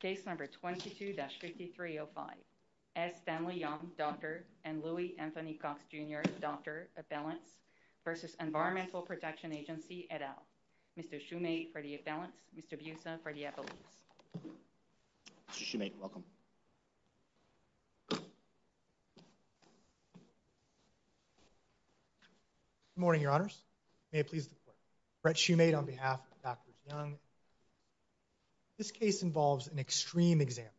Case number 22-5305. S. Stanley Young, Dr. and Louis Anthony Cox, Jr., Dr. Appellants v. Environmental Protection Agency, et al. Mr. Shumate for the Appellants. Mr. Busa for the Appellants. Good morning, Your Honors. May it please the Court. Brett Shumate on behalf of Dr. Young. This case involves an extreme example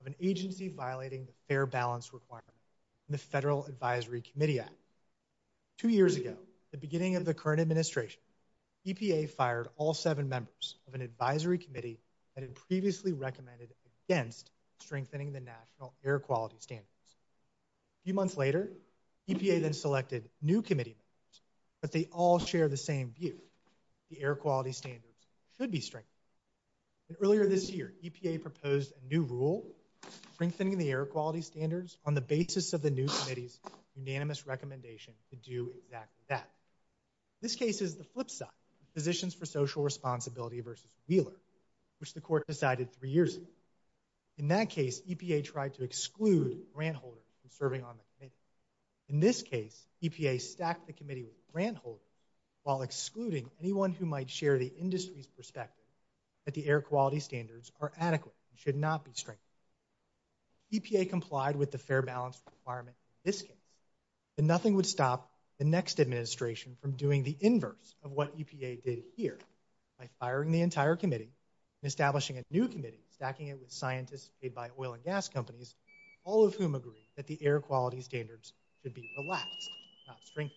of an agency violating the Fair Balance Requirement in the Federal Advisory Committee Act. Two years ago at the beginning of the current administration, EPA fired all seven members of an advisory committee that had previously recommended against strengthening the national air quality standards. A few months later, EPA then selected new committee members, but they all share the same view. The air quality standards should be strengthened. Earlier this year, EPA proposed a new rule strengthening the air quality standards on the basis of the new committee's unanimous recommendation to do exactly that. This case is the flip side. Positions for Social Responsibility v. Wheeler, which the Court decided three years ago. In that case, EPA tried to exclude grant holders from serving on the committee. In this case, EPA stacked the committee with grant holders while excluding anyone who might share the industry's perspective that the air quality standards are adequate and should not be strengthened. EPA complied with the Fair Balance Requirement in this case, but nothing would stop the next administration from doing the inverse of what EPA did here by firing the entire committee and establishing a new committee, stacking it with scientists made by oil and gas companies, all of whom agree that the air quality standards should be relaxed, not strengthened.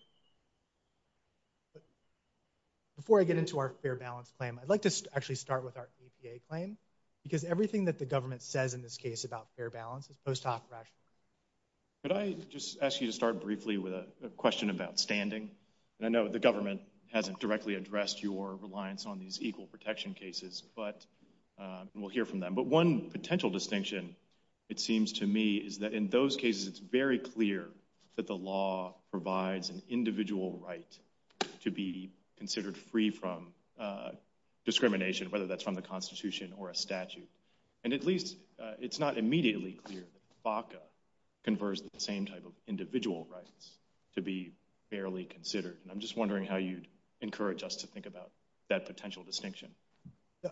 Before I get into our Fair Balance claim, I'd like to actually start with our EPA claim, because everything that the government says in this case about fair balance is post hoc rational. Could I just ask you to start briefly with a question about standing? I know the government hasn't directly addressed your reliance on these equal protection cases, but we'll hear from them. But one potential distinction, it seems to me, is that in those cases it's very clear that the law provides an individual right to be considered free from discrimination, whether that's from the Constitution or a statute. And at least it's not immediately clear that the FACA confers the same type of individual rights to be fairly considered. And I'm just wondering how you'd encourage us to think about that potential distinction.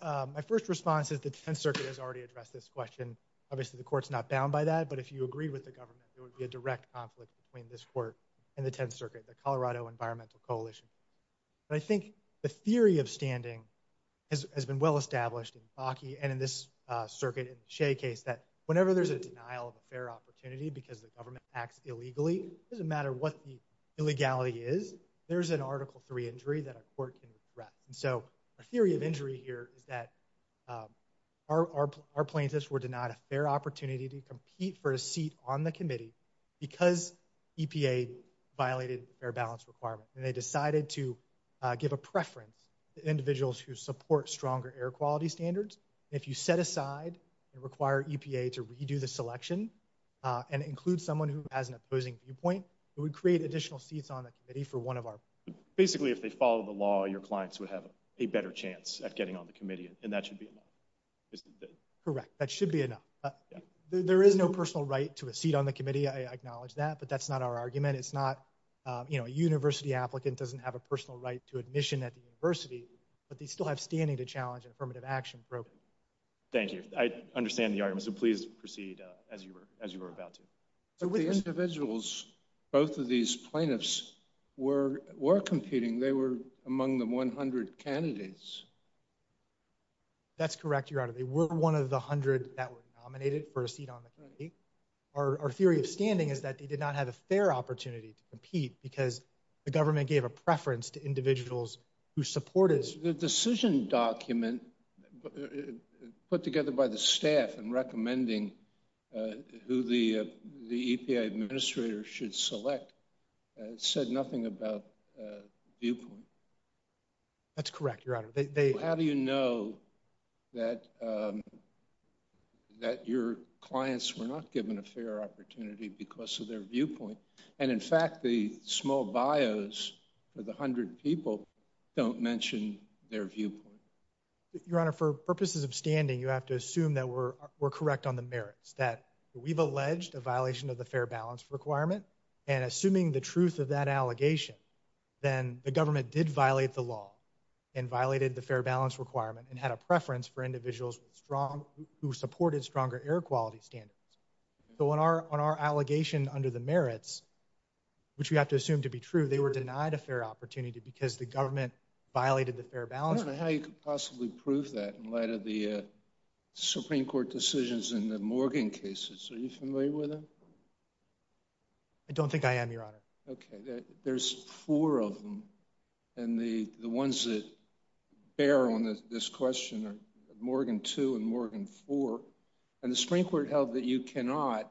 My first response is the defense circuit has already addressed this question. Obviously the court's not bound by that, but if you agree with the government, there would be a direct conflict between this court and the Tenth Circuit, the Colorado Environmental Coalition. But I think the theory of standing has been well established in Bakke and in this circuit in the Shea case that whenever there's a denial of a fair opportunity because the government acts illegally, it doesn't matter what the illegality is, there's an Article 3 injury that a court can address. And so a theory of injury here is that our the committee because EPA violated their balance requirement and they decided to give a preference to individuals who support stronger air quality standards. If you set aside and require EPA to redo the selection and include someone who has an opposing viewpoint, it would create additional seats on the committee for one of our. Basically if they follow the law, your clients would have a better chance at getting on the committee and that should be enough. Correct, that should be enough. There is no personal right to a seat on the committee, I acknowledge that, but that's not our argument. It's not, you know, a university applicant doesn't have a personal right to admission at the university, but they still have standing to challenge an affirmative action program. Thank you, I understand the argument, so please proceed as you were as you were about to. So with the individuals, both of these plaintiffs were competing, they were among the 100 candidates. That's correct, Your Honor, they were one of the hundred that were nominated for a seat on the committee. Our theory of standing is that they did not have a fair opportunity to compete because the government gave a preference to individuals who support it. The decision document put together by the staff and recommending who the the EPA administrator should select said nothing about viewpoint. That's correct, Your Honor. How do you know that that your clients were not given a fair opportunity because of their viewpoint and in fact the small bios of the hundred people don't mention their viewpoint? Your Honor, for purposes of standing you have to assume that we're correct on the merits, that we've alleged a violation of the fair balance requirement and assuming the truth of that allegation, then the government did violate the law and violated the fair balance requirement and had a preference for individuals strong who supported stronger air quality standards. So on our on our allegation under the merits, which we have to assume to be true, they were denied a fair opportunity because the government violated the fair balance. How you could possibly prove that in light of the Supreme Court decisions in the Morgan cases? Are you familiar with them? I don't think I am, Your Honor. Okay, there's four of them and the the ones that bear on this question are Morgan 2 and Morgan 4 and the Supreme Court held that you cannot,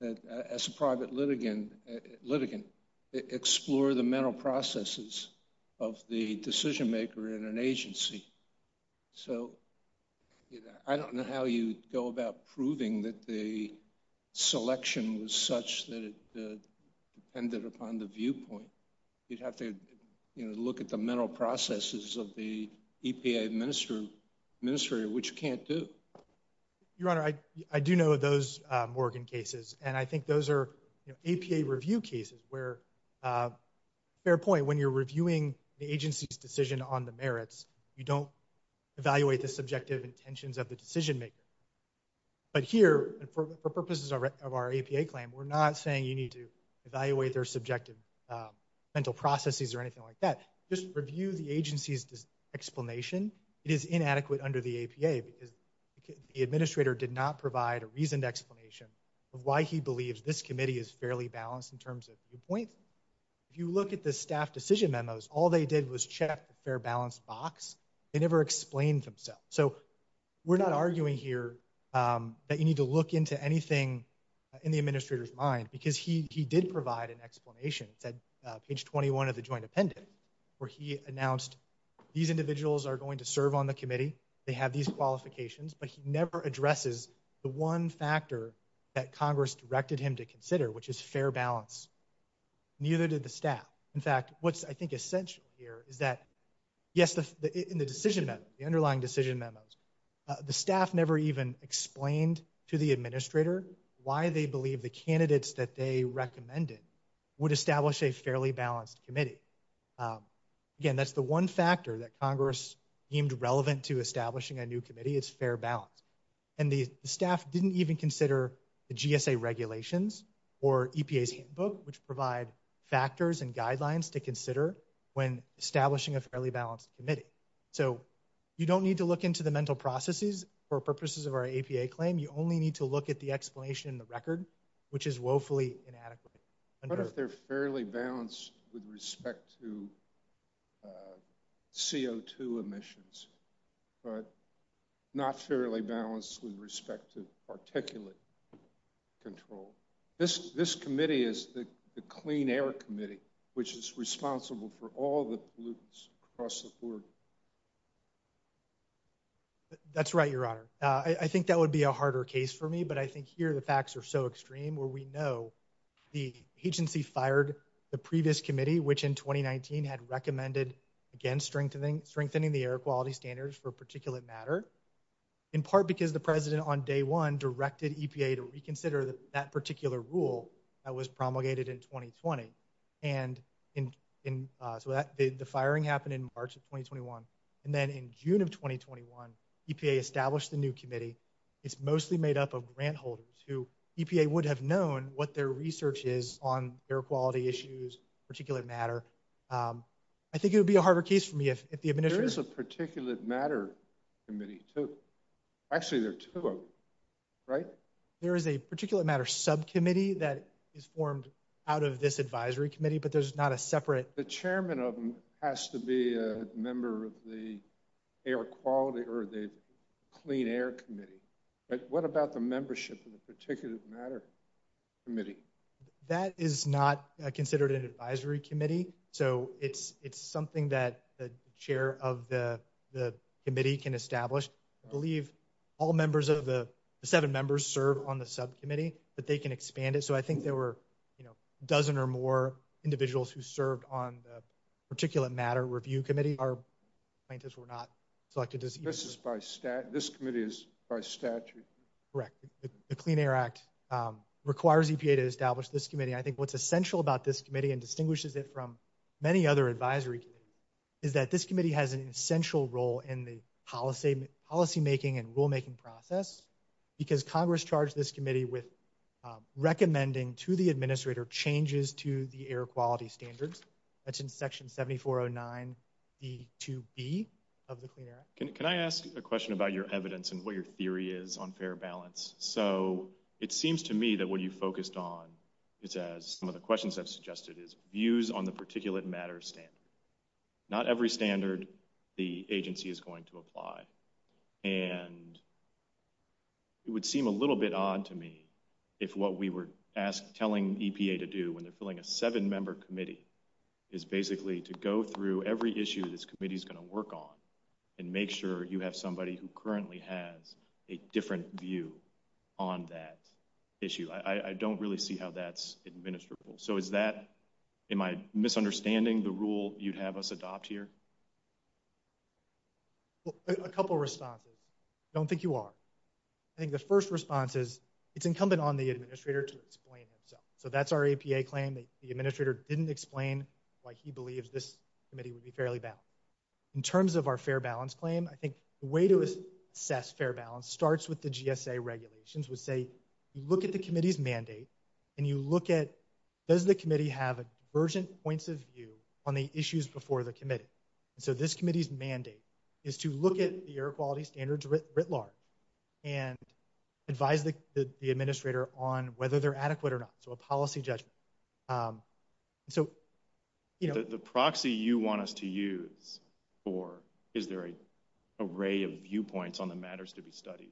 as a private litigant, explore the mental processes of the decision-maker in an agency. So I don't know how you go about proving that the selection was such that it depended upon the viewpoint. You'd have to, you know, look at the mental processes of the EPA administrator, which you can't do. Your Honor, I do know of those Morgan cases and I think those are APA review cases where, fair point, when you're reviewing the agency's decision on the merits, you don't evaluate the decision-maker. But here, for purposes of our APA claim, we're not saying you need to evaluate their subjective mental processes or anything like that. Just review the agency's explanation. It is inadequate under the APA because the administrator did not provide a reasoned explanation of why he believes this committee is fairly balanced in terms of viewpoints. If you look at the staff decision memos, all they did was check the fair balance box. They never explained themselves. So we're not arguing here that you need to look into anything in the administrator's mind because he did provide an explanation. It's at page 21 of the joint appendix where he announced these individuals are going to serve on the committee, they have these qualifications, but he never addresses the one factor that Congress directed him to consider, which is fair balance. Neither did the staff. In fact, what's I think essential here is that, yes, in the decision memo, the underlying decision memos, the staff never even explained to the administrator why they believe the candidates that they recommended would establish a fairly balanced committee. Again, that's the one factor that Congress deemed relevant to establishing a new committee, it's fair balance. And the staff didn't even consider the GSA regulations or EPA's handbook, which provide factors and guidelines to consider when establishing a fairly balanced committee. So you don't need to look into the mental processes for purposes of our APA claim, you only need to look at the explanation in the record, which is woefully inadequate. What if they're fairly balanced with respect to CO2 emissions, but not fairly balanced with respect to particulate control? This committee is the clean air committee, which is responsible for all the pollutants across the board. That's right, your honor. I think that would be a harder case for me, but I think here the facts are so extreme, where we know the agency fired the previous committee, which in 2019 had recommended, again, strengthening the air quality standards for particulate matter, in part because the president on day one directed EPA to reconsider that particular rule that was firing happened in March of 2021. And then in June of 2021, EPA established the new committee. It's mostly made up of grant holders, who EPA would have known what their research is on air quality issues, particulate matter. I think it would be a harder case for me if the administration... There is a particulate matter committee, too. Actually, there are two of them, right? There is a particulate matter subcommittee that is formed out of this advisory committee, but there's not a separate... The chairman of them has to be a member of the air quality or the clean air committee, but what about the membership of the particulate matter committee? That is not considered an advisory committee, so it's something that the chair of the committee can establish. I believe all members of the seven members serve on the subcommittee, but they can expand it, so I think there were a dozen or more individuals who served on the particulate matter review committee. Our plaintiffs were not selected... This committee is by statute? Correct. The Clean Air Act requires EPA to establish this committee. I think what's essential about this committee, and distinguishes it from many other advisory committees, is that this committee has an essential role in the policymaking and rulemaking process, because Congress charged this committee with recommending to the administrator changes to the air quality standards. That's in Section 7409 D2B of the Clean Air Act. Can I ask a question about your evidence and what your theory is on fair balance? So, it seems to me that what you focused on is, as some of the questions have suggested, is views on the particulate matter standard. Not every standard the agency is going to apply, and it would seem a little bit odd to me if what we were asked, telling EPA to do, when they're filling a seven-member committee, is basically to go through every issue this committee is going to work on, and make sure you have somebody who currently has a different view on that issue. I don't really see how that's administrable. So, is that, am I misunderstanding the rule you'd have us adopt here? A couple responses. I don't want the administrator to explain himself. So, that's our EPA claim. The administrator didn't explain why he believes this committee would be fairly balanced. In terms of our fair balance claim, I think the way to assess fair balance starts with the GSA regulations. We say, you look at the committee's mandate, and you look at, does the committee have a divergent points of view on the issues before the committee? So, this committee's mandate is to look at the air quality standards writ large, and advise the administrator on whether they're adequate or not. So, a policy judgment. So, you know. The proxy you want us to use for, is there a array of viewpoints on the matters to be studied,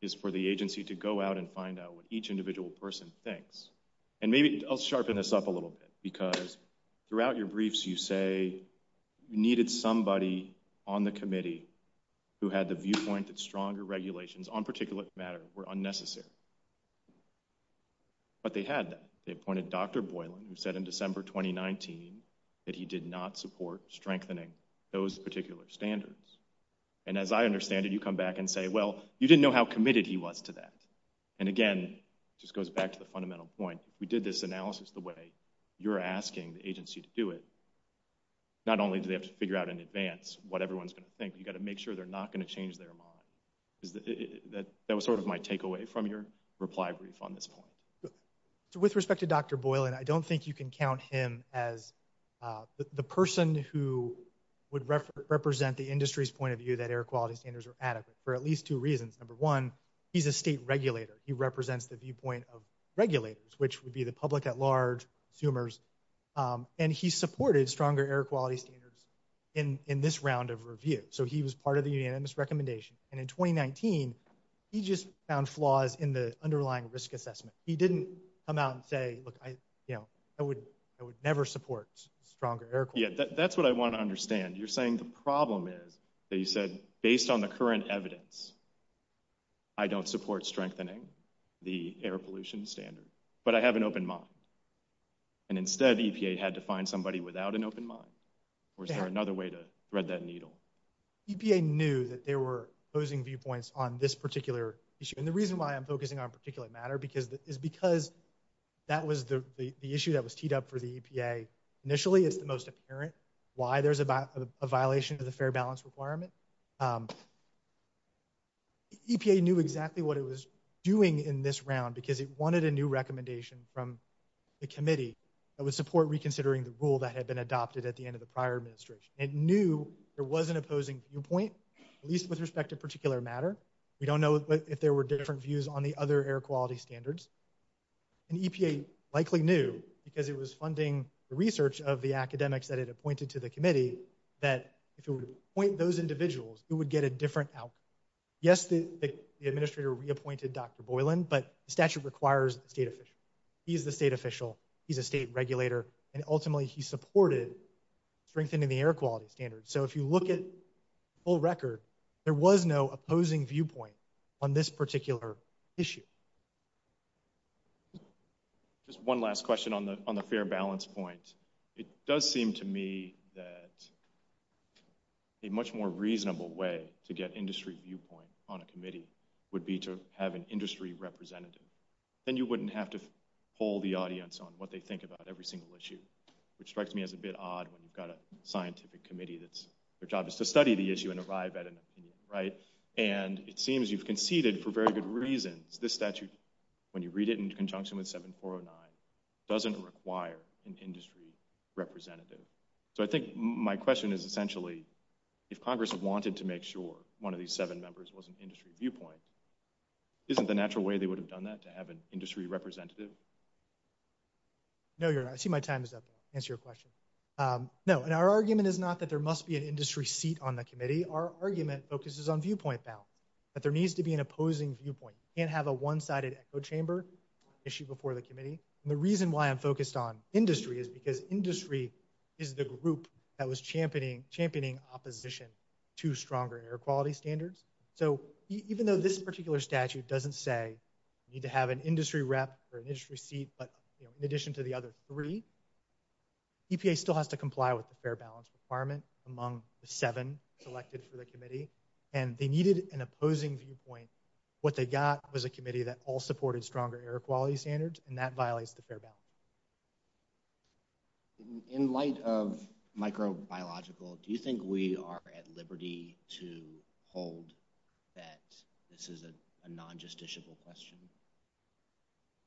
is for the agency to go out and find out what each individual person thinks. And maybe, I'll sharpen this up a little bit, because throughout your briefs, you say you needed somebody on the committee who had the viewpoint that stronger regulations, on particular matter, were unnecessary. But they had that. They appointed Dr. Boylan, who said in December 2019, that he did not support strengthening those particular standards. And as I understand it, you come back and say, well, you didn't know how committed he was to that. And again, just goes back to the fundamental point, we did this analysis the way you're asking the committee, not only do they have to figure out in advance, what everyone's going to think, you got to make sure they're not going to change their mind. Is that that was sort of my takeaway from your reply brief on this point. So, with respect to Dr. Boylan, I don't think you can count him as the person who would represent the industry's point of view that air quality standards are adequate, for at least two reasons. Number one, he's a state regulator, he represents the viewpoint of regulators, which would be the public at large consumers. And he supported stronger air quality standards in this round of review. So he was part of the unanimous recommendation. And in 2019, he just found flaws in the underlying risk assessment. He didn't come out and say, look, I, you know, I would, I would never support stronger air quality. Yeah, that's what I want to understand. You're saying the problem is that you said, based on the current evidence, I don't support strengthening the air quality standards. And instead, EPA had to find somebody without an open mind. Or is there another way to thread that needle? EPA knew that they were posing viewpoints on this particular issue. And the reason why I'm focusing on a particular matter because that is because that was the issue that was teed up for the EPA. Initially, it's the most apparent why there's a violation of the fair balance requirement. EPA knew exactly what it was doing in this round, because it wanted a new recommendation from the committee that would support reconsidering the rule that had been adopted at the end of the prior administration. It knew there was an opposing viewpoint, at least with respect to a particular matter. We don't know if there were different views on the other air quality standards. And EPA likely knew, because it was funding the research of the academics that it appointed to the committee, that if it would appoint those individuals, it would get a different outcome. Yes, the he's the state official, he's a state regulator. And ultimately, he supported strengthening the air quality standards. So if you look at full record, there was no opposing viewpoint on this particular issue. Just one last question on the on the fair balance point. It does seem to me that a much more reasonable way to get industry viewpoint on a committee would be to have an industry representative. Then you wouldn't have to poll the audience on what they think about every single issue, which strikes me as a bit odd when you've got a scientific committee that's, their job is to study the issue and arrive at an opinion, right? And it seems you've conceded for very good reasons. This statute, when you read it in conjunction with 7409, doesn't require an industry representative. So I think my question is essentially, if Congress wanted to make sure one of these seven members was an industry viewpoint, isn't the natural way they would have done that to have an industry representative? No, you're I see my time is up to answer your question. No, and our argument is not that there must be an industry seat on the committee. Our argument focuses on viewpoint balance, that there needs to be an opposing viewpoint and have a one sided echo chamber issue before the committee. And the reason why I'm focused on industry is because industry is the group that was championing championing opposition to stronger air quality standards. So even though this particular statute doesn't say you need to have an industry rep or an industry seat, but in addition to the other three, EPA still has to comply with the fair balance requirement among the seven selected for the committee, and they needed an opposing viewpoint. What they got was a committee that all supported stronger air quality standards, and that violates the fair balance. In light of microbiological, do you think we are at liberty to hold that this is a non justiciable question?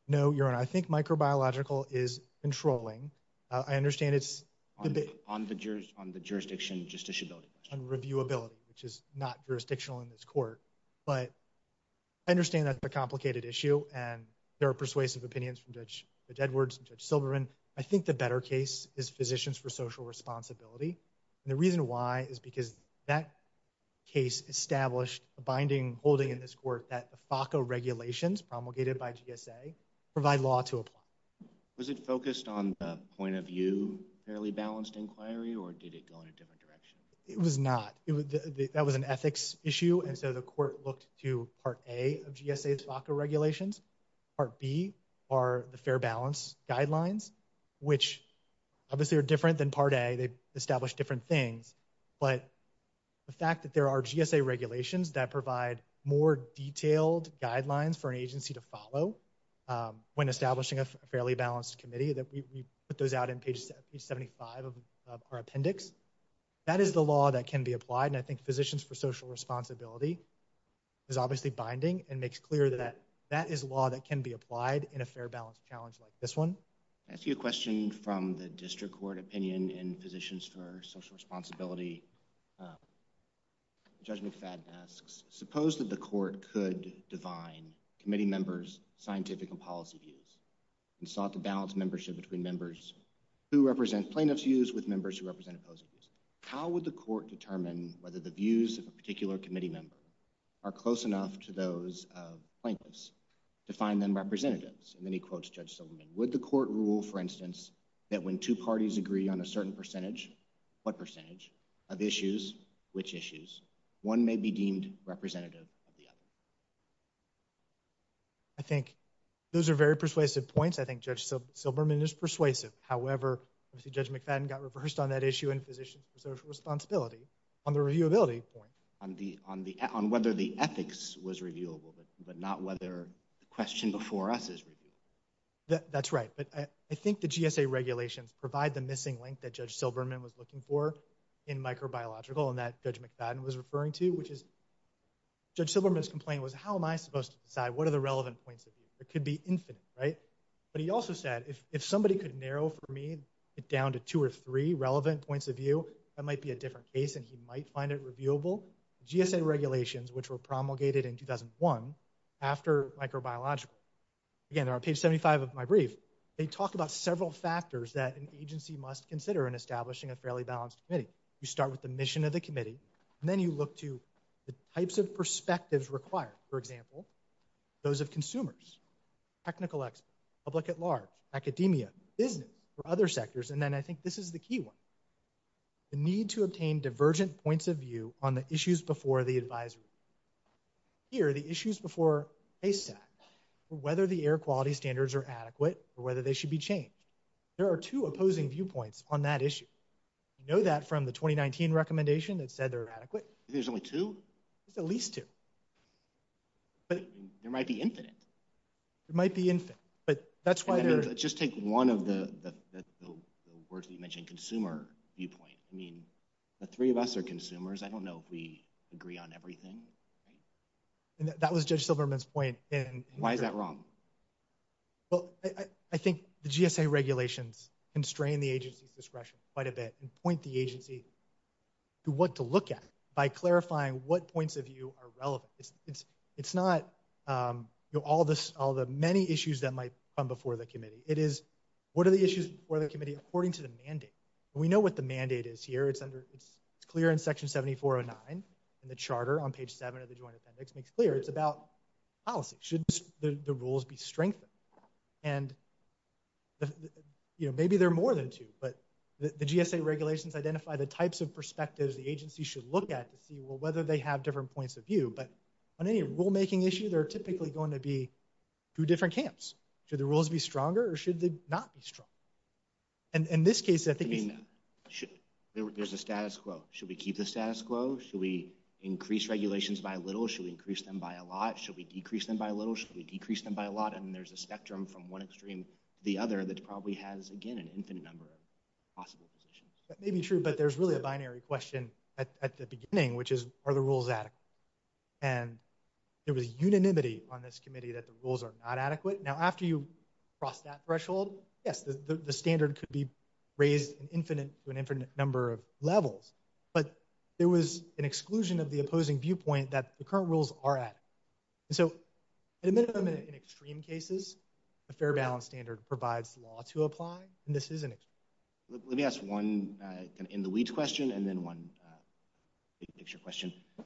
No, you're and I think microbiological is controlling. I understand it's on the jurors on the jurisdiction. Just issue building on review ability, which is not jurisdictional in this court. But I understand that the complicated issue and there are persuasive opinions from Dutch Edwards Silverman. I think the better case is physicians for social responsibility. The reason why is because that case established a binding holding in this court that FACA regulations promulgated by GSA provide law to apply. Was it focused on the point of view? Fairly balanced inquiry, or did it go in a different direction? It was not. That was an ethics issue. And so the court looked to part A of GSA FACA regulations. Part B are the fair balance guidelines, which obviously are different than part A. They established different things. But the fact that there are GSA regulations that provide more detailed guidelines for an agency to follow when establishing a fairly balanced committee that we put those out in page 75 of our appendix. That is the law that can be applied. And I think physicians for social responsibility is obviously binding and makes clear that that is law that can be applied in a different way. I see a question from the district court opinion in physicians for social responsibility. Judge McFadden asks, suppose that the court could divine committee members, scientific and policy views and sought to balance membership between members who represent plaintiff's views with members who represent opposed. How would the court determine whether the views of a particular committee member are close enough to those plaintiffs to find them representatives? And then he quotes Judge Silverman. Would the court rule, for instance, that when two parties agree on a certain percentage, what percentage, of issues, which issues, one may be deemed representative of the other? I think those are very persuasive points. I think Judge Silverman is persuasive. However, Judge McFadden got reversed on that issue in physicians for social responsibility on the reviewability point. On whether the ethics was reviewable, but not whether the question before us is that's right. But I think the GSA regulations provide the missing link that Judge Silverman was looking for in microbiological and that Judge McFadden was referring to, which is Judge Silverman's complaint was, how am I supposed to decide what are the relevant points of view? It could be infinite, right? But he also said, if somebody could narrow for me it down to two or three relevant points of view, that might be a different case and he might find it reviewable. GSA regulations, which were promulgated in 2001 after microbiological. Again, they're on page 75 of my brief. They talk about several factors that an agency must consider in establishing a fairly balanced committee. You start with the mission of the committee and then you look to the types of perspectives required. For example, those of consumers, technical experts, public at large, academia, business, or other sectors. And then I think this is the key one. The need to obtain divergent points of view on the issues before the advisory. Here, the issues before ASAC, whether the air quality standards are adequate or whether they should be changed. There are two opposing viewpoints on that issue. You know that from the 2019 recommendation that said they're adequate. There's only two? At least two. But there might be infinite. It might be infinite, but that's why they're... Just take one of the words we mentioned, consumer viewpoint. I mean, the consumers, I don't know if we agree on everything. That was Judge Silverman's point. Why is that wrong? Well, I think the GSA regulations constrain the agency's discretion quite a bit and point the agency to what to look at by clarifying what points of view are relevant. It's not all the many issues that might come before the committee. It is what are the issues before the committee according to the mandate. We know what the mandate is here. It's clear in section 7409 and the charter on page 7 of the Joint Appendix makes clear it's about policy. Should the rules be strengthened? And, you know, maybe there are more than two, but the GSA regulations identify the types of perspectives the agency should look at to see, well, whether they have different points of view. But on any rulemaking issue, there are typically going to be two different camps. Should the rules be stronger or should they not be strong? And in this case, I think there's a status quo. Should we keep the status quo? Should we increase regulations by a little? Should we increase them by a lot? Should we decrease them by a little? Should we decrease them by a lot? And there's a spectrum from one extreme to the other that probably has, again, an infinite number of possible positions. That may be true, but there's really a binary question at the beginning, which is, are the rules adequate? And there was unanimity on this committee that the rules are not adequate. Yes, the standard could be raised to an infinite number of levels, but there was an exclusion of the opposing viewpoint that the current rules are adequate. So, at a minimum, in extreme cases, a fair balance standard provides law to apply, and this is an extreme case. Let me ask one in the weeds question and then one big picture question. Do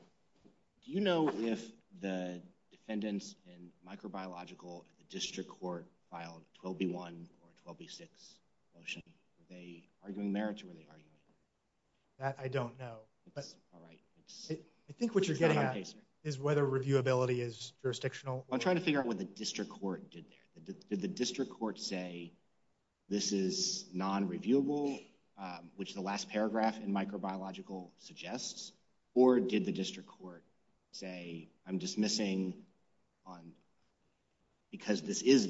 you know if the defendants in microbiological at the district court filed 12B1 or 12B6? Were they arguing merits or were they arguing? That I don't know, but I think what you're getting at is whether reviewability is jurisdictional. I'm trying to figure out what the district court did there. Did the district court say, this is non-reviewable, which the last paragraph in microbiological suggests, or did the district court say, I'm dismissing because this is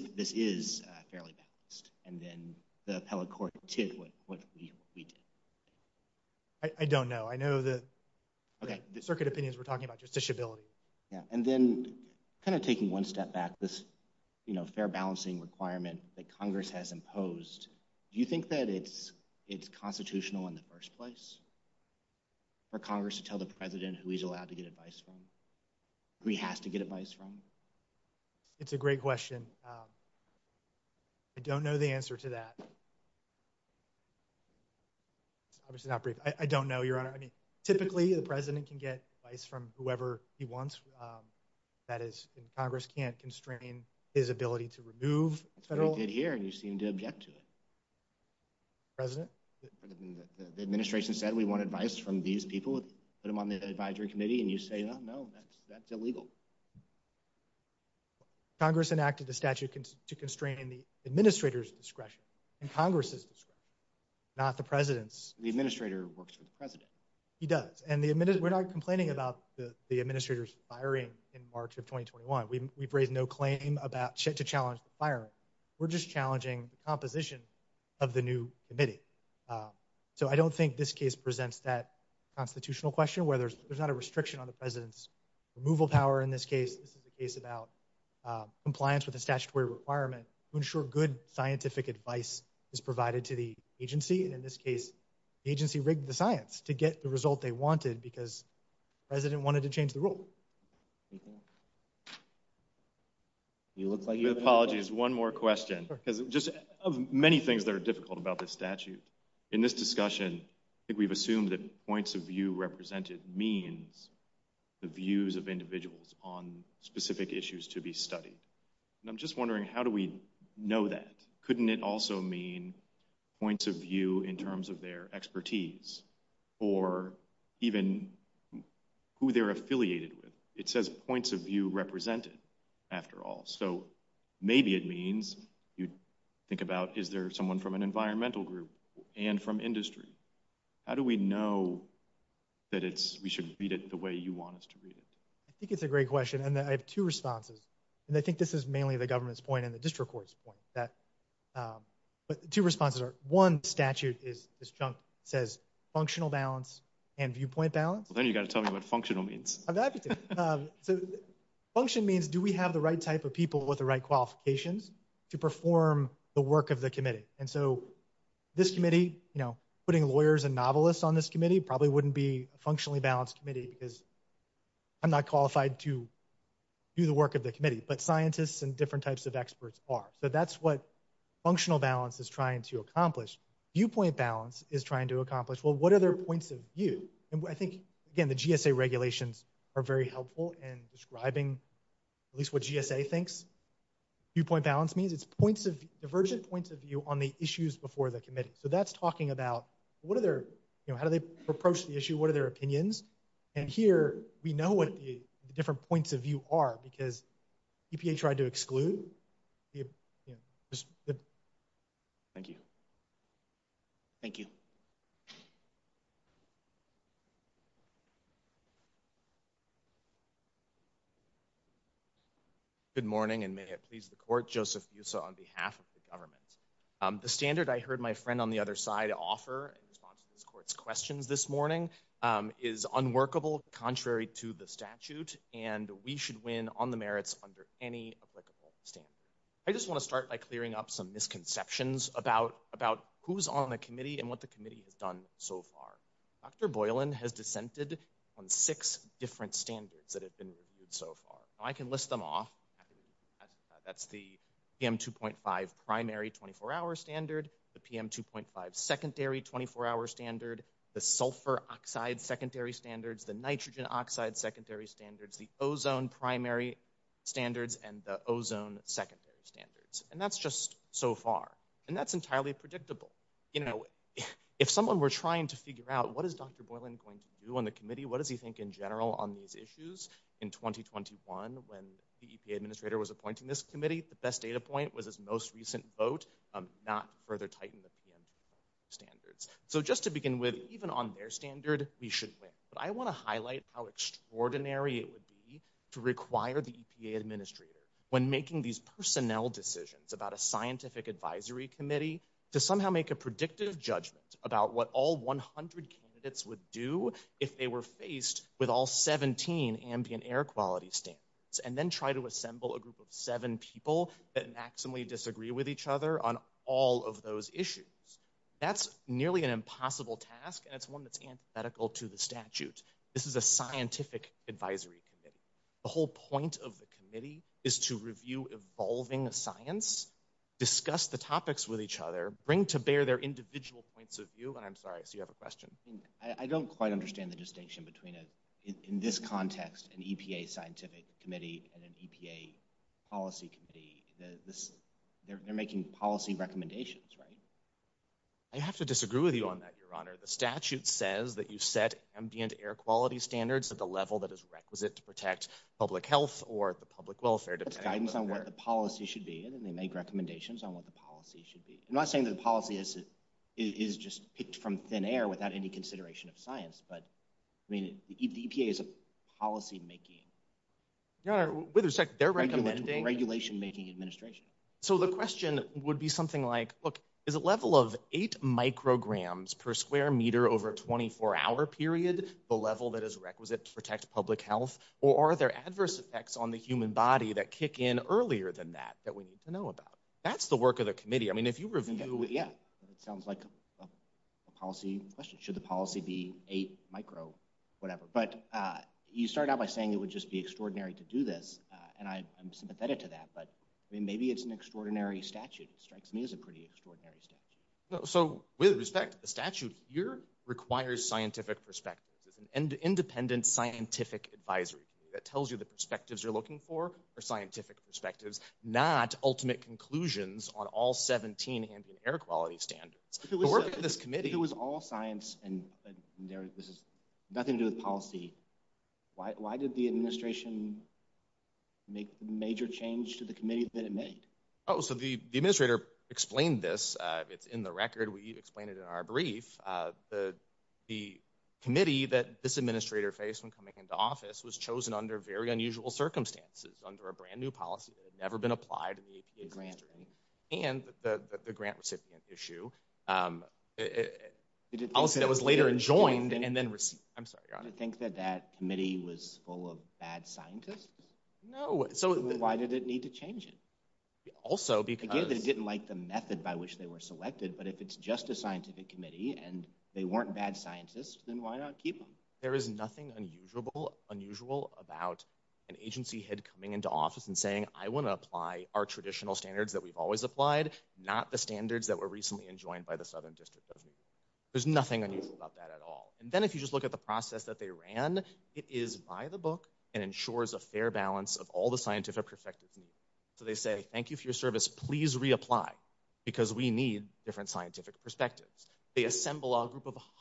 fairly balanced, and then the appellate court did what we did? I don't know. I know the circuit opinions were talking about justiciability. Yeah, and then kind of taking one step back, this, you know, fair balancing requirement that Congress has imposed, do you think that it's constitutional in the first place for Congress to tell the president who he's allowed to get advice from, who he has to get advice from? It's a great question. I don't know the answer to that. Obviously not brief. I don't know, Your Honor. I mean, typically the president can get advice from whoever he wants. That is, Congress can't constrain his ability to remove federal... You did here, and you seem to object to it. President? The administration said we want advice from these people. Put them on the advisory committee, and you say, no, no, that's illegal. Congress enacted the statute to constrain the administrator's discretion and Congress's discretion, not the president's. The administrator works for the president. He does, and we're not complaining about the administrator's firing in March of 2021. We've raised no claim to challenge the firing. We're just challenging the composition of the new committee. So I don't think this case presents that president's removal power. In this case, this is a case about compliance with a statutory requirement to ensure good scientific advice is provided to the agency. In this case, the agency rigged the science to get the result they wanted because the president wanted to change the rule. Apologies, one more question. Just of many things that are difficult about this statute, in this discussion, I think we've assumed that points of view represented means the views of individuals on specific issues to be studied. I'm just wondering, how do we know that? Couldn't it also mean points of view in terms of their expertise or even who they're affiliated with? It says points of view represented, after all. So maybe it means you think about, is there someone from an environmental group and from industry? How do we know that it's, we should read it the way you want us to read it? I think it's a great question and then I have two responses. And I think this is mainly the government's point and the district court's point that, but two responses are, one statute is this chunk says functional balance and viewpoint balance. Then you got to tell me what functional means. So function means do we have the right type of people with the qualifications to perform the work of the committee? And so this committee, you know, putting lawyers and novelists on this committee probably wouldn't be a functionally balanced committee because I'm not qualified to do the work of the committee. But scientists and different types of experts are. So that's what functional balance is trying to accomplish. Viewpoint balance is trying to accomplish. Well, what are their points of view? And I think, again, the GSA regulations are very helpful in describing at least what GSA thinks viewpoint balance means. It's points of, divergent points of view on the issues before the committee. So that's talking about what are their, you know, how do they approach the issue? What are their opinions? And here we know what the different points of view are because EPA tried to exclude. Thank you. Thank you. Good morning, and may it please the court. Joseph Busa on behalf of the government. The standard I heard my friend on the other side offer in response to this court's questions this morning is unworkable, contrary to the statute, and we should win on the merits under any applicable standard. I just want to start by clearing up some misconceptions about about who's on the committee and what the committee has done so far. Dr. Boylan has dissented on six different standards that have been reviewed so far. I can list them off. That's the PM 2.5 primary 24-hour standard, the PM 2.5 secondary 24-hour standard, the sulfur oxide secondary standards, the nitrogen oxide secondary standards, the ozone primary standards, and the ozone secondary standards. And that's just so far, and that's entirely predictable. You know, if someone were trying to figure out what is Dr. Boylan going to do on the committee, what does he think in general on these issues? In 2021, when the EPA administrator was appointing this committee, the best data point was his most recent vote, not further tighten the PM 2.5 standards. So just to begin with, even on their standard, we should win. But I want to highlight how extraordinary it would be to require the advisory committee to somehow make a predictive judgment about what all 100 candidates would do if they were faced with all 17 ambient air quality standards, and then try to assemble a group of seven people that maximally disagree with each other on all of those issues. That's nearly an impossible task, and it's one that's antithetical to the statute. This is a scientific advisory committee. The whole point of the committee is to review evolving science, discuss the topics with each other, bring to bear their individual points of view, and I'm sorry, I see you have a question. I don't quite understand the distinction between, in this context, an EPA scientific committee and an EPA policy committee. They're making policy recommendations, right? I have to disagree with you on that, Your Honor. The statute says that you set ambient air quality standards at the level that is requisite to protect public health or the public welfare. That's guidance on what the policy should be, and they make recommendations on what the policy should be. I'm not saying that the policy is just picked from thin air without any consideration of science, but I mean, the EPA is a policy-making... Your Honor, wait a sec, they're recommending... Regulation-making administration. So the question would be something like, look, is a level of 8 micrograms per square meter over a 24-hour period the level that is human body that kick in earlier than that, that we need to know about? That's the work of the committee. I mean, if you review... Yeah, it sounds like a policy question. Should the policy be 8 micro... whatever. But you start out by saying it would just be extraordinary to do this, and I'm sympathetic to that, but I mean, maybe it's an extraordinary statute. It strikes me as a pretty extraordinary statute. So, with respect, the statute here requires scientific perspectives. It's an independent scientific advisory committee that tells you the perspectives you're looking for are scientific perspectives, not ultimate conclusions on all 17 ambient air quality standards. The work of this committee... If it was all science, and this has nothing to do with policy, why did the administration make the major change to the committee that it made? Oh, so the administrator explained this. It's in the record. We explained it in our brief. The committee that this administrator faced when coming into office was chosen under very unusual circumstances, under a brand-new policy that had never been applied in the APA history, and the grant recipient issue, a policy that was later enjoined and then received. I'm sorry, your honor. You think that that committee was full of bad scientists? No. So, why did it need to change it? Also, because... Again, they didn't like the method by which they were selected, but if it's just a scientific committee, and they weren't bad scientists, then why not keep them? There is nothing unusual about an agency head coming into office and saying, I want to apply our traditional standards that we've always applied, not the standards that were recently enjoined by the Southern District of New York. There's nothing unusual about that at all. And then if you just look at the process that they ran, it is by the book and ensures a fair balance of all the scientific perspectives. So they say, thank you for your service, please reapply, because we need different scientific perspectives. They assemble a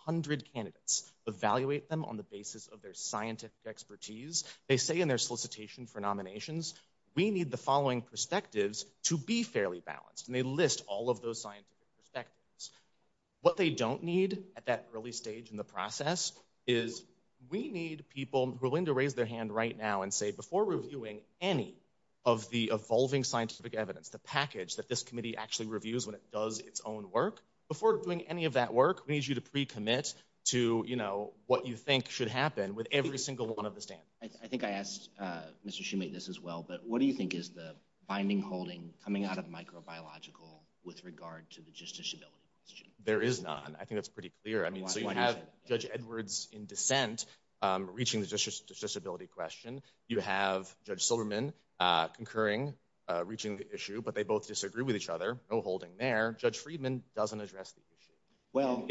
hundred candidates, evaluate them on the basis of their scientific expertise. They say in their solicitation for nominations, we need the following perspectives to be fairly balanced, and they list all of those scientific perspectives. What they don't need at that early stage in the process is, we need people willing to raise their hand right now and say, before reviewing any of the evolving scientific evidence, the package that this committee actually reviews when it comes to this issue, we need to pre-commit to, you know, what you think should happen with every single one of the standards. I think I asked Mr. Shumate this as well, but what do you think is the binding holding coming out of microbiological with regard to the justiciability question? There is none. I think that's pretty clear. I mean, so you have Judge Edwards in dissent reaching the justiciability question. You have Judge Silverman concurring, reaching the issue, but they both disagree with each other. No holding there. Judge Friedman doesn't address the issue. Well,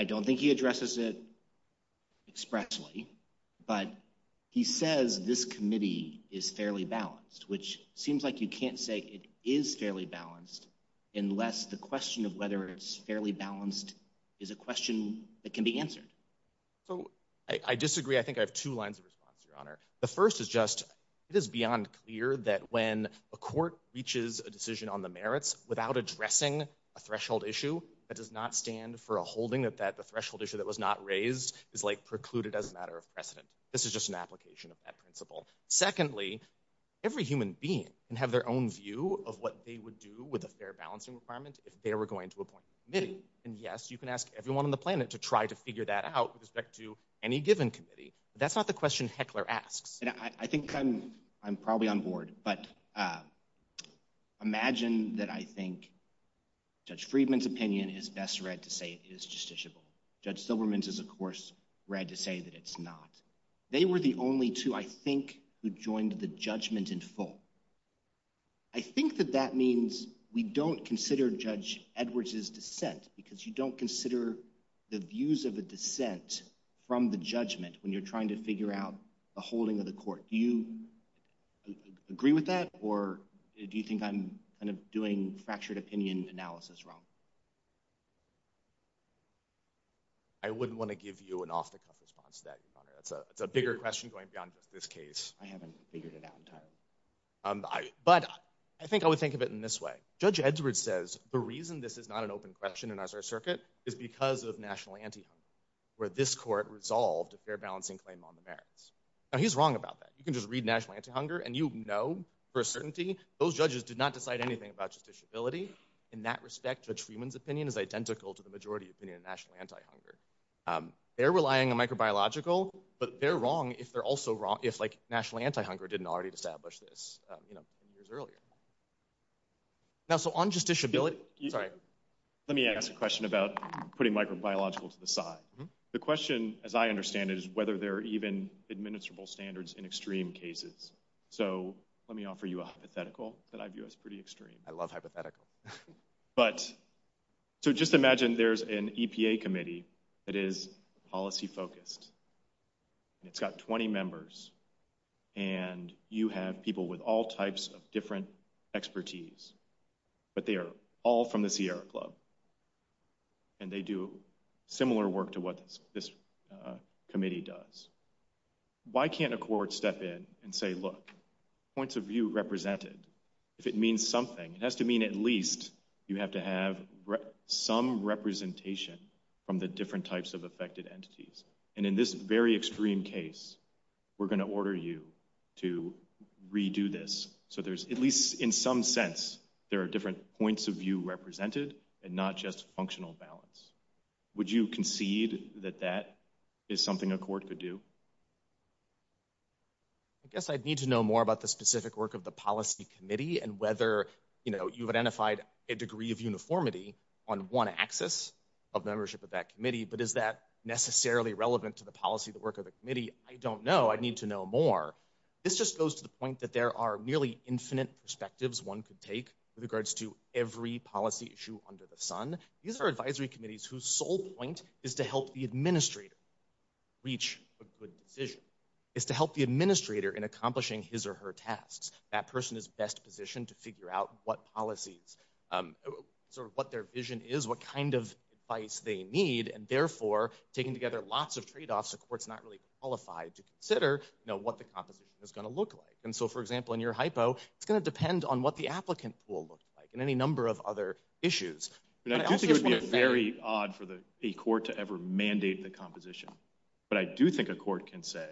I don't think he addresses it expressly, but he says this committee is fairly balanced, which seems like you can't say it is fairly balanced unless the question of whether it's fairly balanced is a question that can be answered. So I disagree. I think I have two lines of response, Your Honor. The first is just, it is beyond clear that when a court reaches a decision on the merits without addressing a threshold issue, that does not stand for a holding that that the threshold issue that was not raised is, like, precluded as a matter of precedent. This is just an application of that principle. Secondly, every human being can have their own view of what they would do with a fair balancing requirement if they were going to appoint a committee. And yes, you can ask everyone on the planet to try to figure that out with respect to any given committee. That's not the question Heckler asks. I think I'm probably on board, but imagine that I think Judge Friedman's opinion is best read to say it is justiciable. Judge Silverman's is, of course, read to say that it's not. They were the only two, I think, who joined the judgment in full. I think that that means we don't consider Judge Edwards's dissent because you don't consider the views of a dissent from the judgment when you're trying to figure out the holding of the court. Do you agree with that, or do you think I'm kind of doing fractured opinion analysis wrong? I wouldn't want to give you an off-the-cuff response to that, Your Honor. It's a bigger question going beyond just this case. I haven't figured it out entirely. But I think I would think of it in this way. Judge Edwards says the reason this is not an open question in our circuit is because of national anti-hunger, where this court resolved a fair balancing claim on the merits. Now, he's wrong about that. You can just read national anti-hunger, and you know for a certainty those judges did not decide anything about justiciability. In that respect, Judge Friedman's opinion is identical to the majority opinion of national anti-hunger. They're relying on microbiological, but they're wrong if they're also wrong if, like, national anti-hunger didn't already establish this, you know, years earlier. Now, so on justiciability, sorry. Let me ask a question. The question, as I understand it, is whether there are even administrable standards in extreme cases. So let me offer you a hypothetical that I view as pretty extreme. I love hypothetical. But, so just imagine there's an EPA committee that is policy-focused. It's got 20 members, and you have people with all types of different expertise. But they are all from the Sierra Club, and they do similar work to what this committee does. Why can't a court step in and say, look, points of view represented. If it means something, it has to mean at least you have to have some representation from the different types of affected entities. And in this very extreme case, we're going to order you to redo this. So there's, at least in some sense, there are different points of view represented and not just functional balance. Would you concede that that is something a court could do? I guess I'd need to know more about the specific work of the policy committee and whether, you know, you've identified a degree of uniformity on one axis of membership of that committee. But is that necessarily relevant to the policy, the work of the committee? I don't know. I'd need to know more. This just goes to the point that there are nearly infinite perspectives one could take with regards to every policy issue under the sun. These are advisory committees whose sole point is to help the administrator reach a good decision, is to help the administrator in accomplishing his or her tasks. That person is best positioned to figure out what policies, sort of what their vision is, what kind of advice they need, and therefore, taking together lots of trade-offs, the court's not really qualified to consider, you know, what the composition is going to look like. And so, for example, in your hypo, it's going to look like, and any number of other issues. I do think it would be very odd for a court to ever mandate the composition, but I do think a court can say,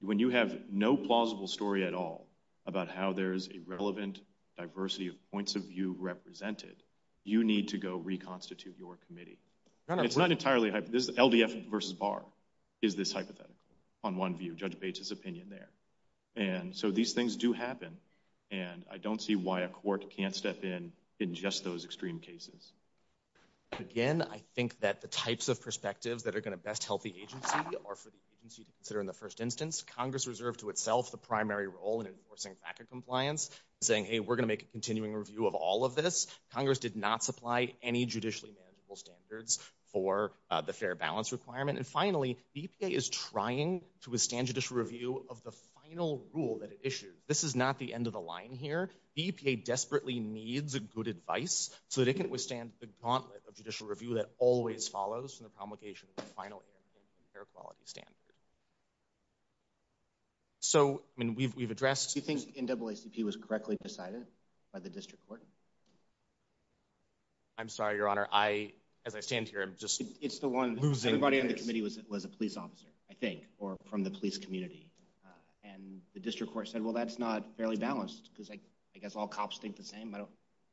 when you have no plausible story at all about how there is a relevant diversity of points of view represented, you need to go reconstitute your committee. It's not entirely, LDF versus Barr is this hypothetical, on one view, Judge Bates's opinion there. And so these things do happen, and I don't see why a court can't step in in just those extreme cases. Again, I think that the types of perspectives that are going to best help the agency are for the agency to consider in the first instance. Congress reserved to itself the primary role in enforcing FACA compliance, saying, hey, we're going to make a continuing review of all of this. Congress did not supply any judicially manageable standards for the fair balance requirement. And finally, the EPA is trying to withstand judicial review of the final rule that it issued. This is not the end of the line here. The agency needs a good advice so that it can withstand the gauntlet of judicial review that always follows from the promulgation of the final air quality standard. So, I mean, we've addressed... Do you think NAACP was correctly decided by the district court? I'm sorry, Your Honor, I, as I stand here, I'm just losing... It's the one, everybody on the committee was a police officer, I think, or from the police community. And the district court said, well, that's not fairly balanced, because I guess all of us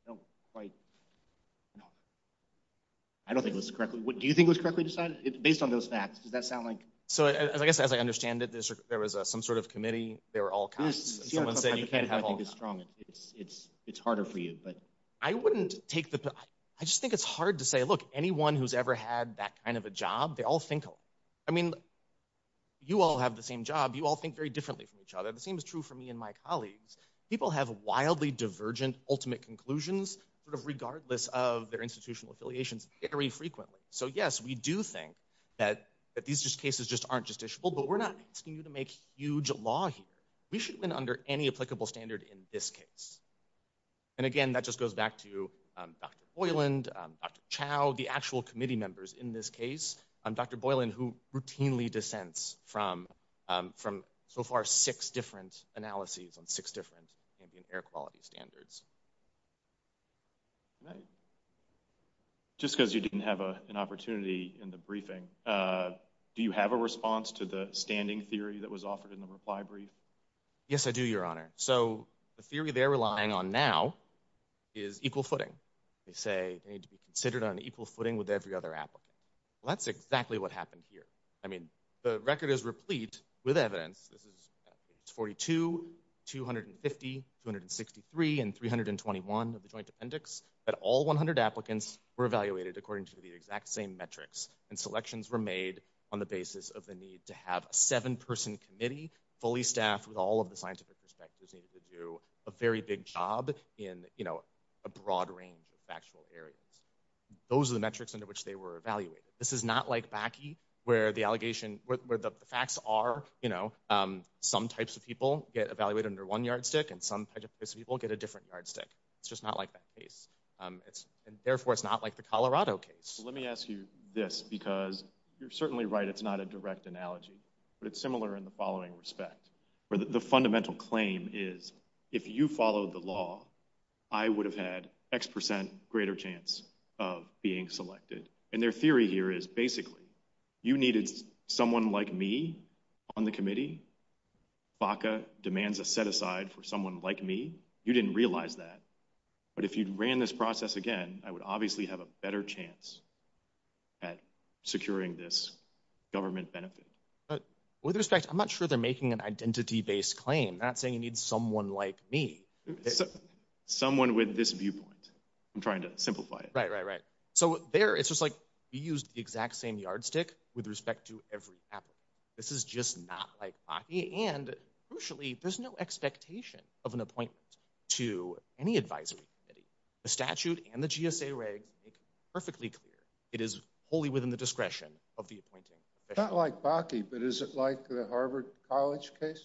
don't quite... I don't think it was correctly... Do you think it was correctly decided? Based on those facts, does that sound like... So, I guess, as I understand it, there was some sort of committee, they were all costs. Someone said you can't have all costs. It's harder for you, but... I wouldn't take the... I just think it's hard to say, look, anyone who's ever had that kind of a job, they all think... I mean, you all have the same job, you all think very differently from each other. The same is true for me and my colleagues. People have wildly divergent ultimate conclusions, sort of regardless of their institutional affiliations, very frequently. So, yes, we do think that these just cases just aren't justiciable, but we're not asking you to make huge law here. We should win under any applicable standard in this case. And again, that just goes back to Dr. Boyland, Dr. Chow, the actual committee members in this case. Dr. Boyland, who routinely dissents from, so far, six different analyses on six different ambient air quality standards. Just because you didn't have an opportunity in the briefing, do you have a response to the standing theory that was offered in the reply brief? Yes, I do, Your Honor. So, the theory they're relying on now is equal footing. They say they need to be considered on equal footing with every other applicant. That's exactly what happened here. I mean, the record is replete with evidence. This is 42, 250, 263, and 321 of the joint appendix, but all 100 applicants were evaluated according to the exact same metrics, and selections were made on the basis of the need to have a seven-person committee, fully staffed with all of the scientific perspectives needed to do a very big job in, you know, a broad range of factual areas. Those are the metrics under which they were evaluated. This is not like BACI, where the allegation, where the facts are, you know, some types of people get evaluated under one yardstick, and some types of people get a different yardstick. It's just not like that case. Therefore, it's not like the Colorado case. Let me ask you this, because you're certainly right, it's not a direct analogy, but it's similar in the following respect. The fundamental claim is, if you followed the law, I would have had X percent greater chance of being selected. And their theory here is, basically, you needed someone like me on the committee. BACA demands a set-aside for someone like me. You didn't realize that. But if you'd ran this process again, I would obviously have a better chance at securing this government benefit. But with respect, I'm not sure they're making an identity-based claim. They're not saying you need someone like me. Someone with this viewpoint. I'm trying to simplify it. Right, right, right. So there, it's just like, you and, crucially, there's no expectation of an appointment to any advisory committee. The statute and the GSA regs make it perfectly clear. It is wholly within the discretion of the appointing. Not like BACI, but is it like the Harvard College case?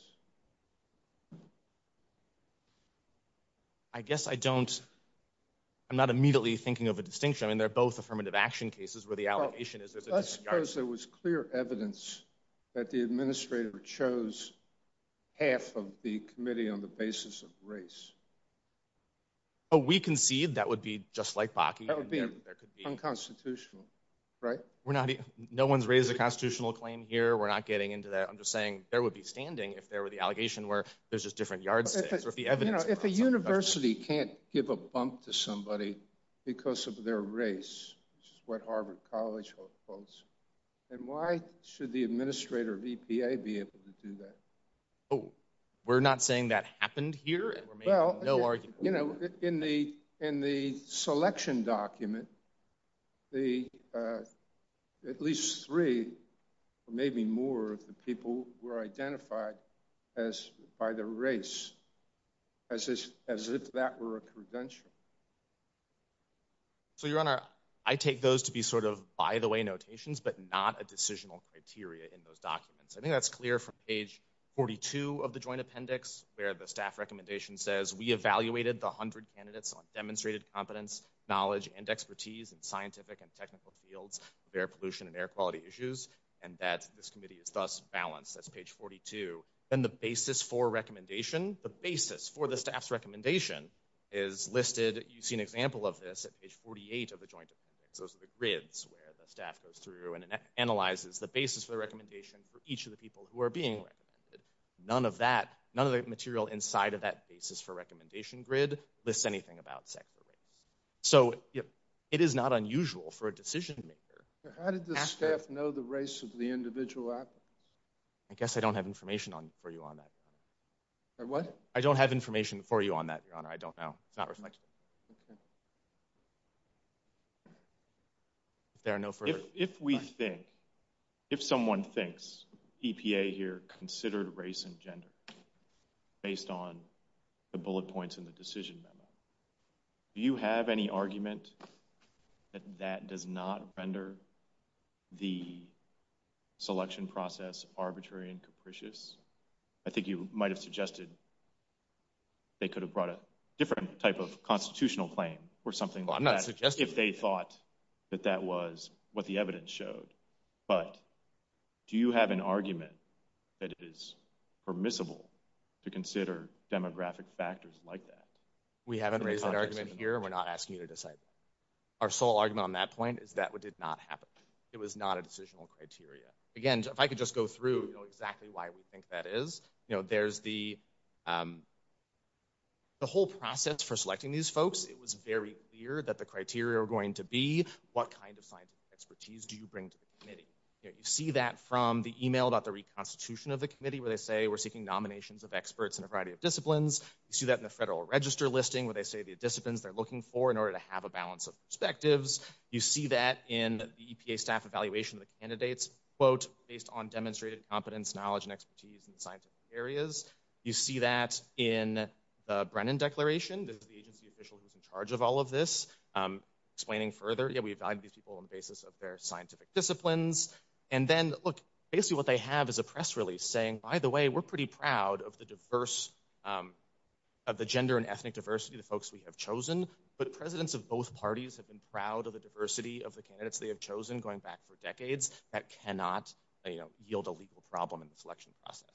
I guess I don't, I'm not immediately thinking of a distinction. I mean, they're both affirmative action cases where the allegation is, let's suppose there was clear evidence that the administrator chose half of the committee on the basis of race. Oh, we concede that would be just like BACI. That would be unconstitutional, right? We're not, no one's raised a constitutional claim here. We're not getting into that. I'm just saying there would be standing if there were the allegation where there's just different yardsticks. If a university can't give a bump to somebody because of their race, which is what Harvard College holds, then why should the administrator of EPA be able to do that? Oh, we're not saying that happened here? In the selection document, at least three or maybe more of the people were identified by their race as if that were a credential. So, your honor, I take those to be sort of by the way notations, but not a decisional criteria in those documents. I think that's clear from page 42 of the joint appendix, where the staff recommendation says we evaluated the 100 candidates on demonstrated competence, knowledge, and expertise in scientific and technical fields of air pollution and air quality issues, and that this committee is thus balanced. That's page 42. And the basis for recommendation, the basis for the staff's recommendation is listed, you see an example of this at page 48 of the joint appendix. Those are the grids where the staff goes through and analyzes the basis for the recommendation for each of the people who are being recommended. None of that, none of the material inside of that basis for recommendation grid lists anything about sex or race. So, it is not unusual for a decision maker. How did the staff know the race of the individual applicants? I guess I don't have information on, for you on that. What? I don't have information for you on that, your honor. I don't know. It's not reflected. If there are no further... If we think, if someone thinks EPA here considered race and gender based on the bullet points in the decision memo, do you have any argument that that does not render the selection process arbitrary and capricious? I think you might have suggested they could have brought a different type of constitutional claim or something like that. I'm not suggesting that. If they thought that that was what the evidence showed. But do you have an argument that it is permissible to consider demographic factors like that? We haven't raised that argument here. We're not asking you to decide that. Our sole argument on that point is that what did not happen. It was not a decisional criteria. Again, if I could just go through exactly why we think that is, there's the whole process for selecting these folks. It was very clear that the criteria are going to be what kind of scientific expertise do you bring to the committee? You see that from the email about the reconstitution of the committee where they say we're seeking nominations of experts in a variety of disciplines. You see that in the federal register listing where they say the You see that in the EPA staff evaluation of the candidates, quote, based on demonstrated competence, knowledge, and expertise in scientific areas. You see that in the Brennan declaration. This is the agency official who's in charge of all of this. Explaining further, yeah, we value these people on the basis of their scientific disciplines. And then, look, basically what they have is a press release saying, by the way, we're pretty proud of the diverse, of the gender and ethnic diversity, the folks we have chosen. But presidents of both parties have been proud of the diversity of the candidates they have chosen going back for decades that cannot yield a legal problem in the selection process.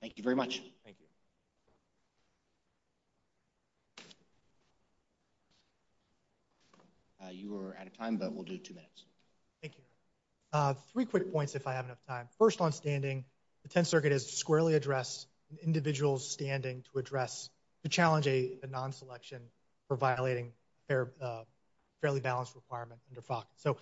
Thank you very much. Thank you. You are out of time, but we'll do two minutes. Thank you. Three quick points if I have enough time. First, on standing, the 10th Circuit has squarely addressed an individual's standing to address, to challenge a non-selection for violating a fairly balanced requirement under FOC. So,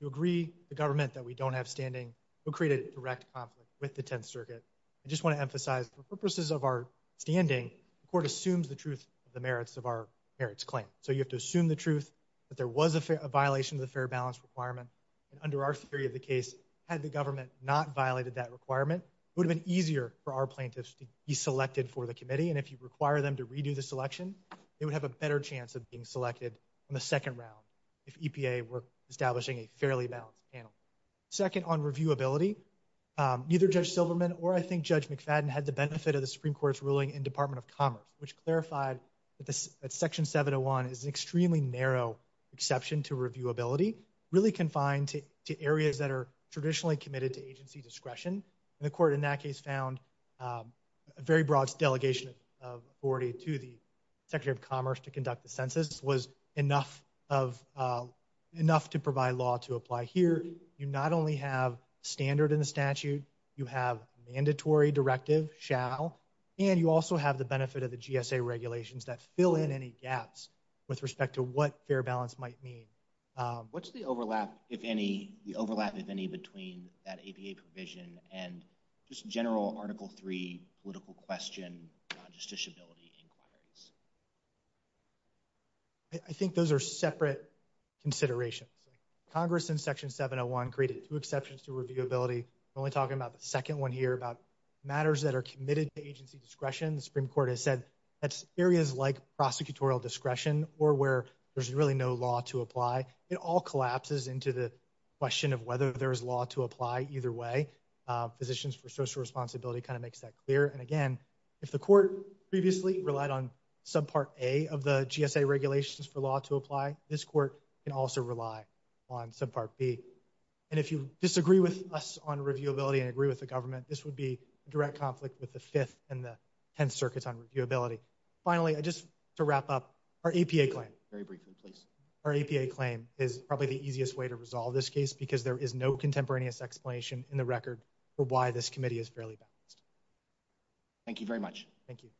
you agree, the government, that we don't have standing. We'll create a direct conflict with the 10th Circuit. I just want to emphasize, for purposes of our standing, the court assumes the truth of the merits of our merits claim. So, you have to assume the truth that there was a violation of the fair balance requirement. And under our theory of the case, had the government not violated that requirement, it would have been easier for our plaintiffs to be selected for the committee. And if you require them to redo the selection, they would have a better chance of being selected in the second round if EPA were establishing a fairly balanced panel. Second, on reviewability, neither Judge Silverman or, I think, Judge McFadden had the benefit of the Supreme Court's ruling in Department of Commerce, which clarified that Section 701 is an extremely narrow exception to reviewability, really confined to areas that are traditionally committed to agency discretion. And the court in that case found a very broad delegation of authority to the Secretary of Commerce to conduct the census was enough to provide law to apply. Here, you not only have standard in the statute, you have mandatory directive, shall, and you also have the benefit of the GSA regulations that fill in any gaps with respect to what fair balance might mean. What's the overlap, if any, the overlap, if any, between that APA provision and just general Article III political question on justiciability inquiries? I think those are separate considerations. Congress in Section 701 created two exceptions to reviewability. I'm only talking about the second one here about matters that are committed to agency discretion. The Supreme Court has said that's areas like prosecutorial discretion or where there's really no law to apply. It all collapses into the question of whether there is law to apply either way. Physicians for Social Responsibility kind of makes that clear. And again, if the court previously relied on Subpart A of the GSA regulations for law to apply, this court can also rely on Subpart B. And if you disagree with us on reviewability and agree with the government, this would be a direct conflict with the Fifth and Tenth Circuits on reviewability. Finally, just to wrap up, our APA claim is probably the easiest way to resolve this case because there is no contemporaneous explanation in the record for why this committee is fairly balanced. Thank you very much. Thank you.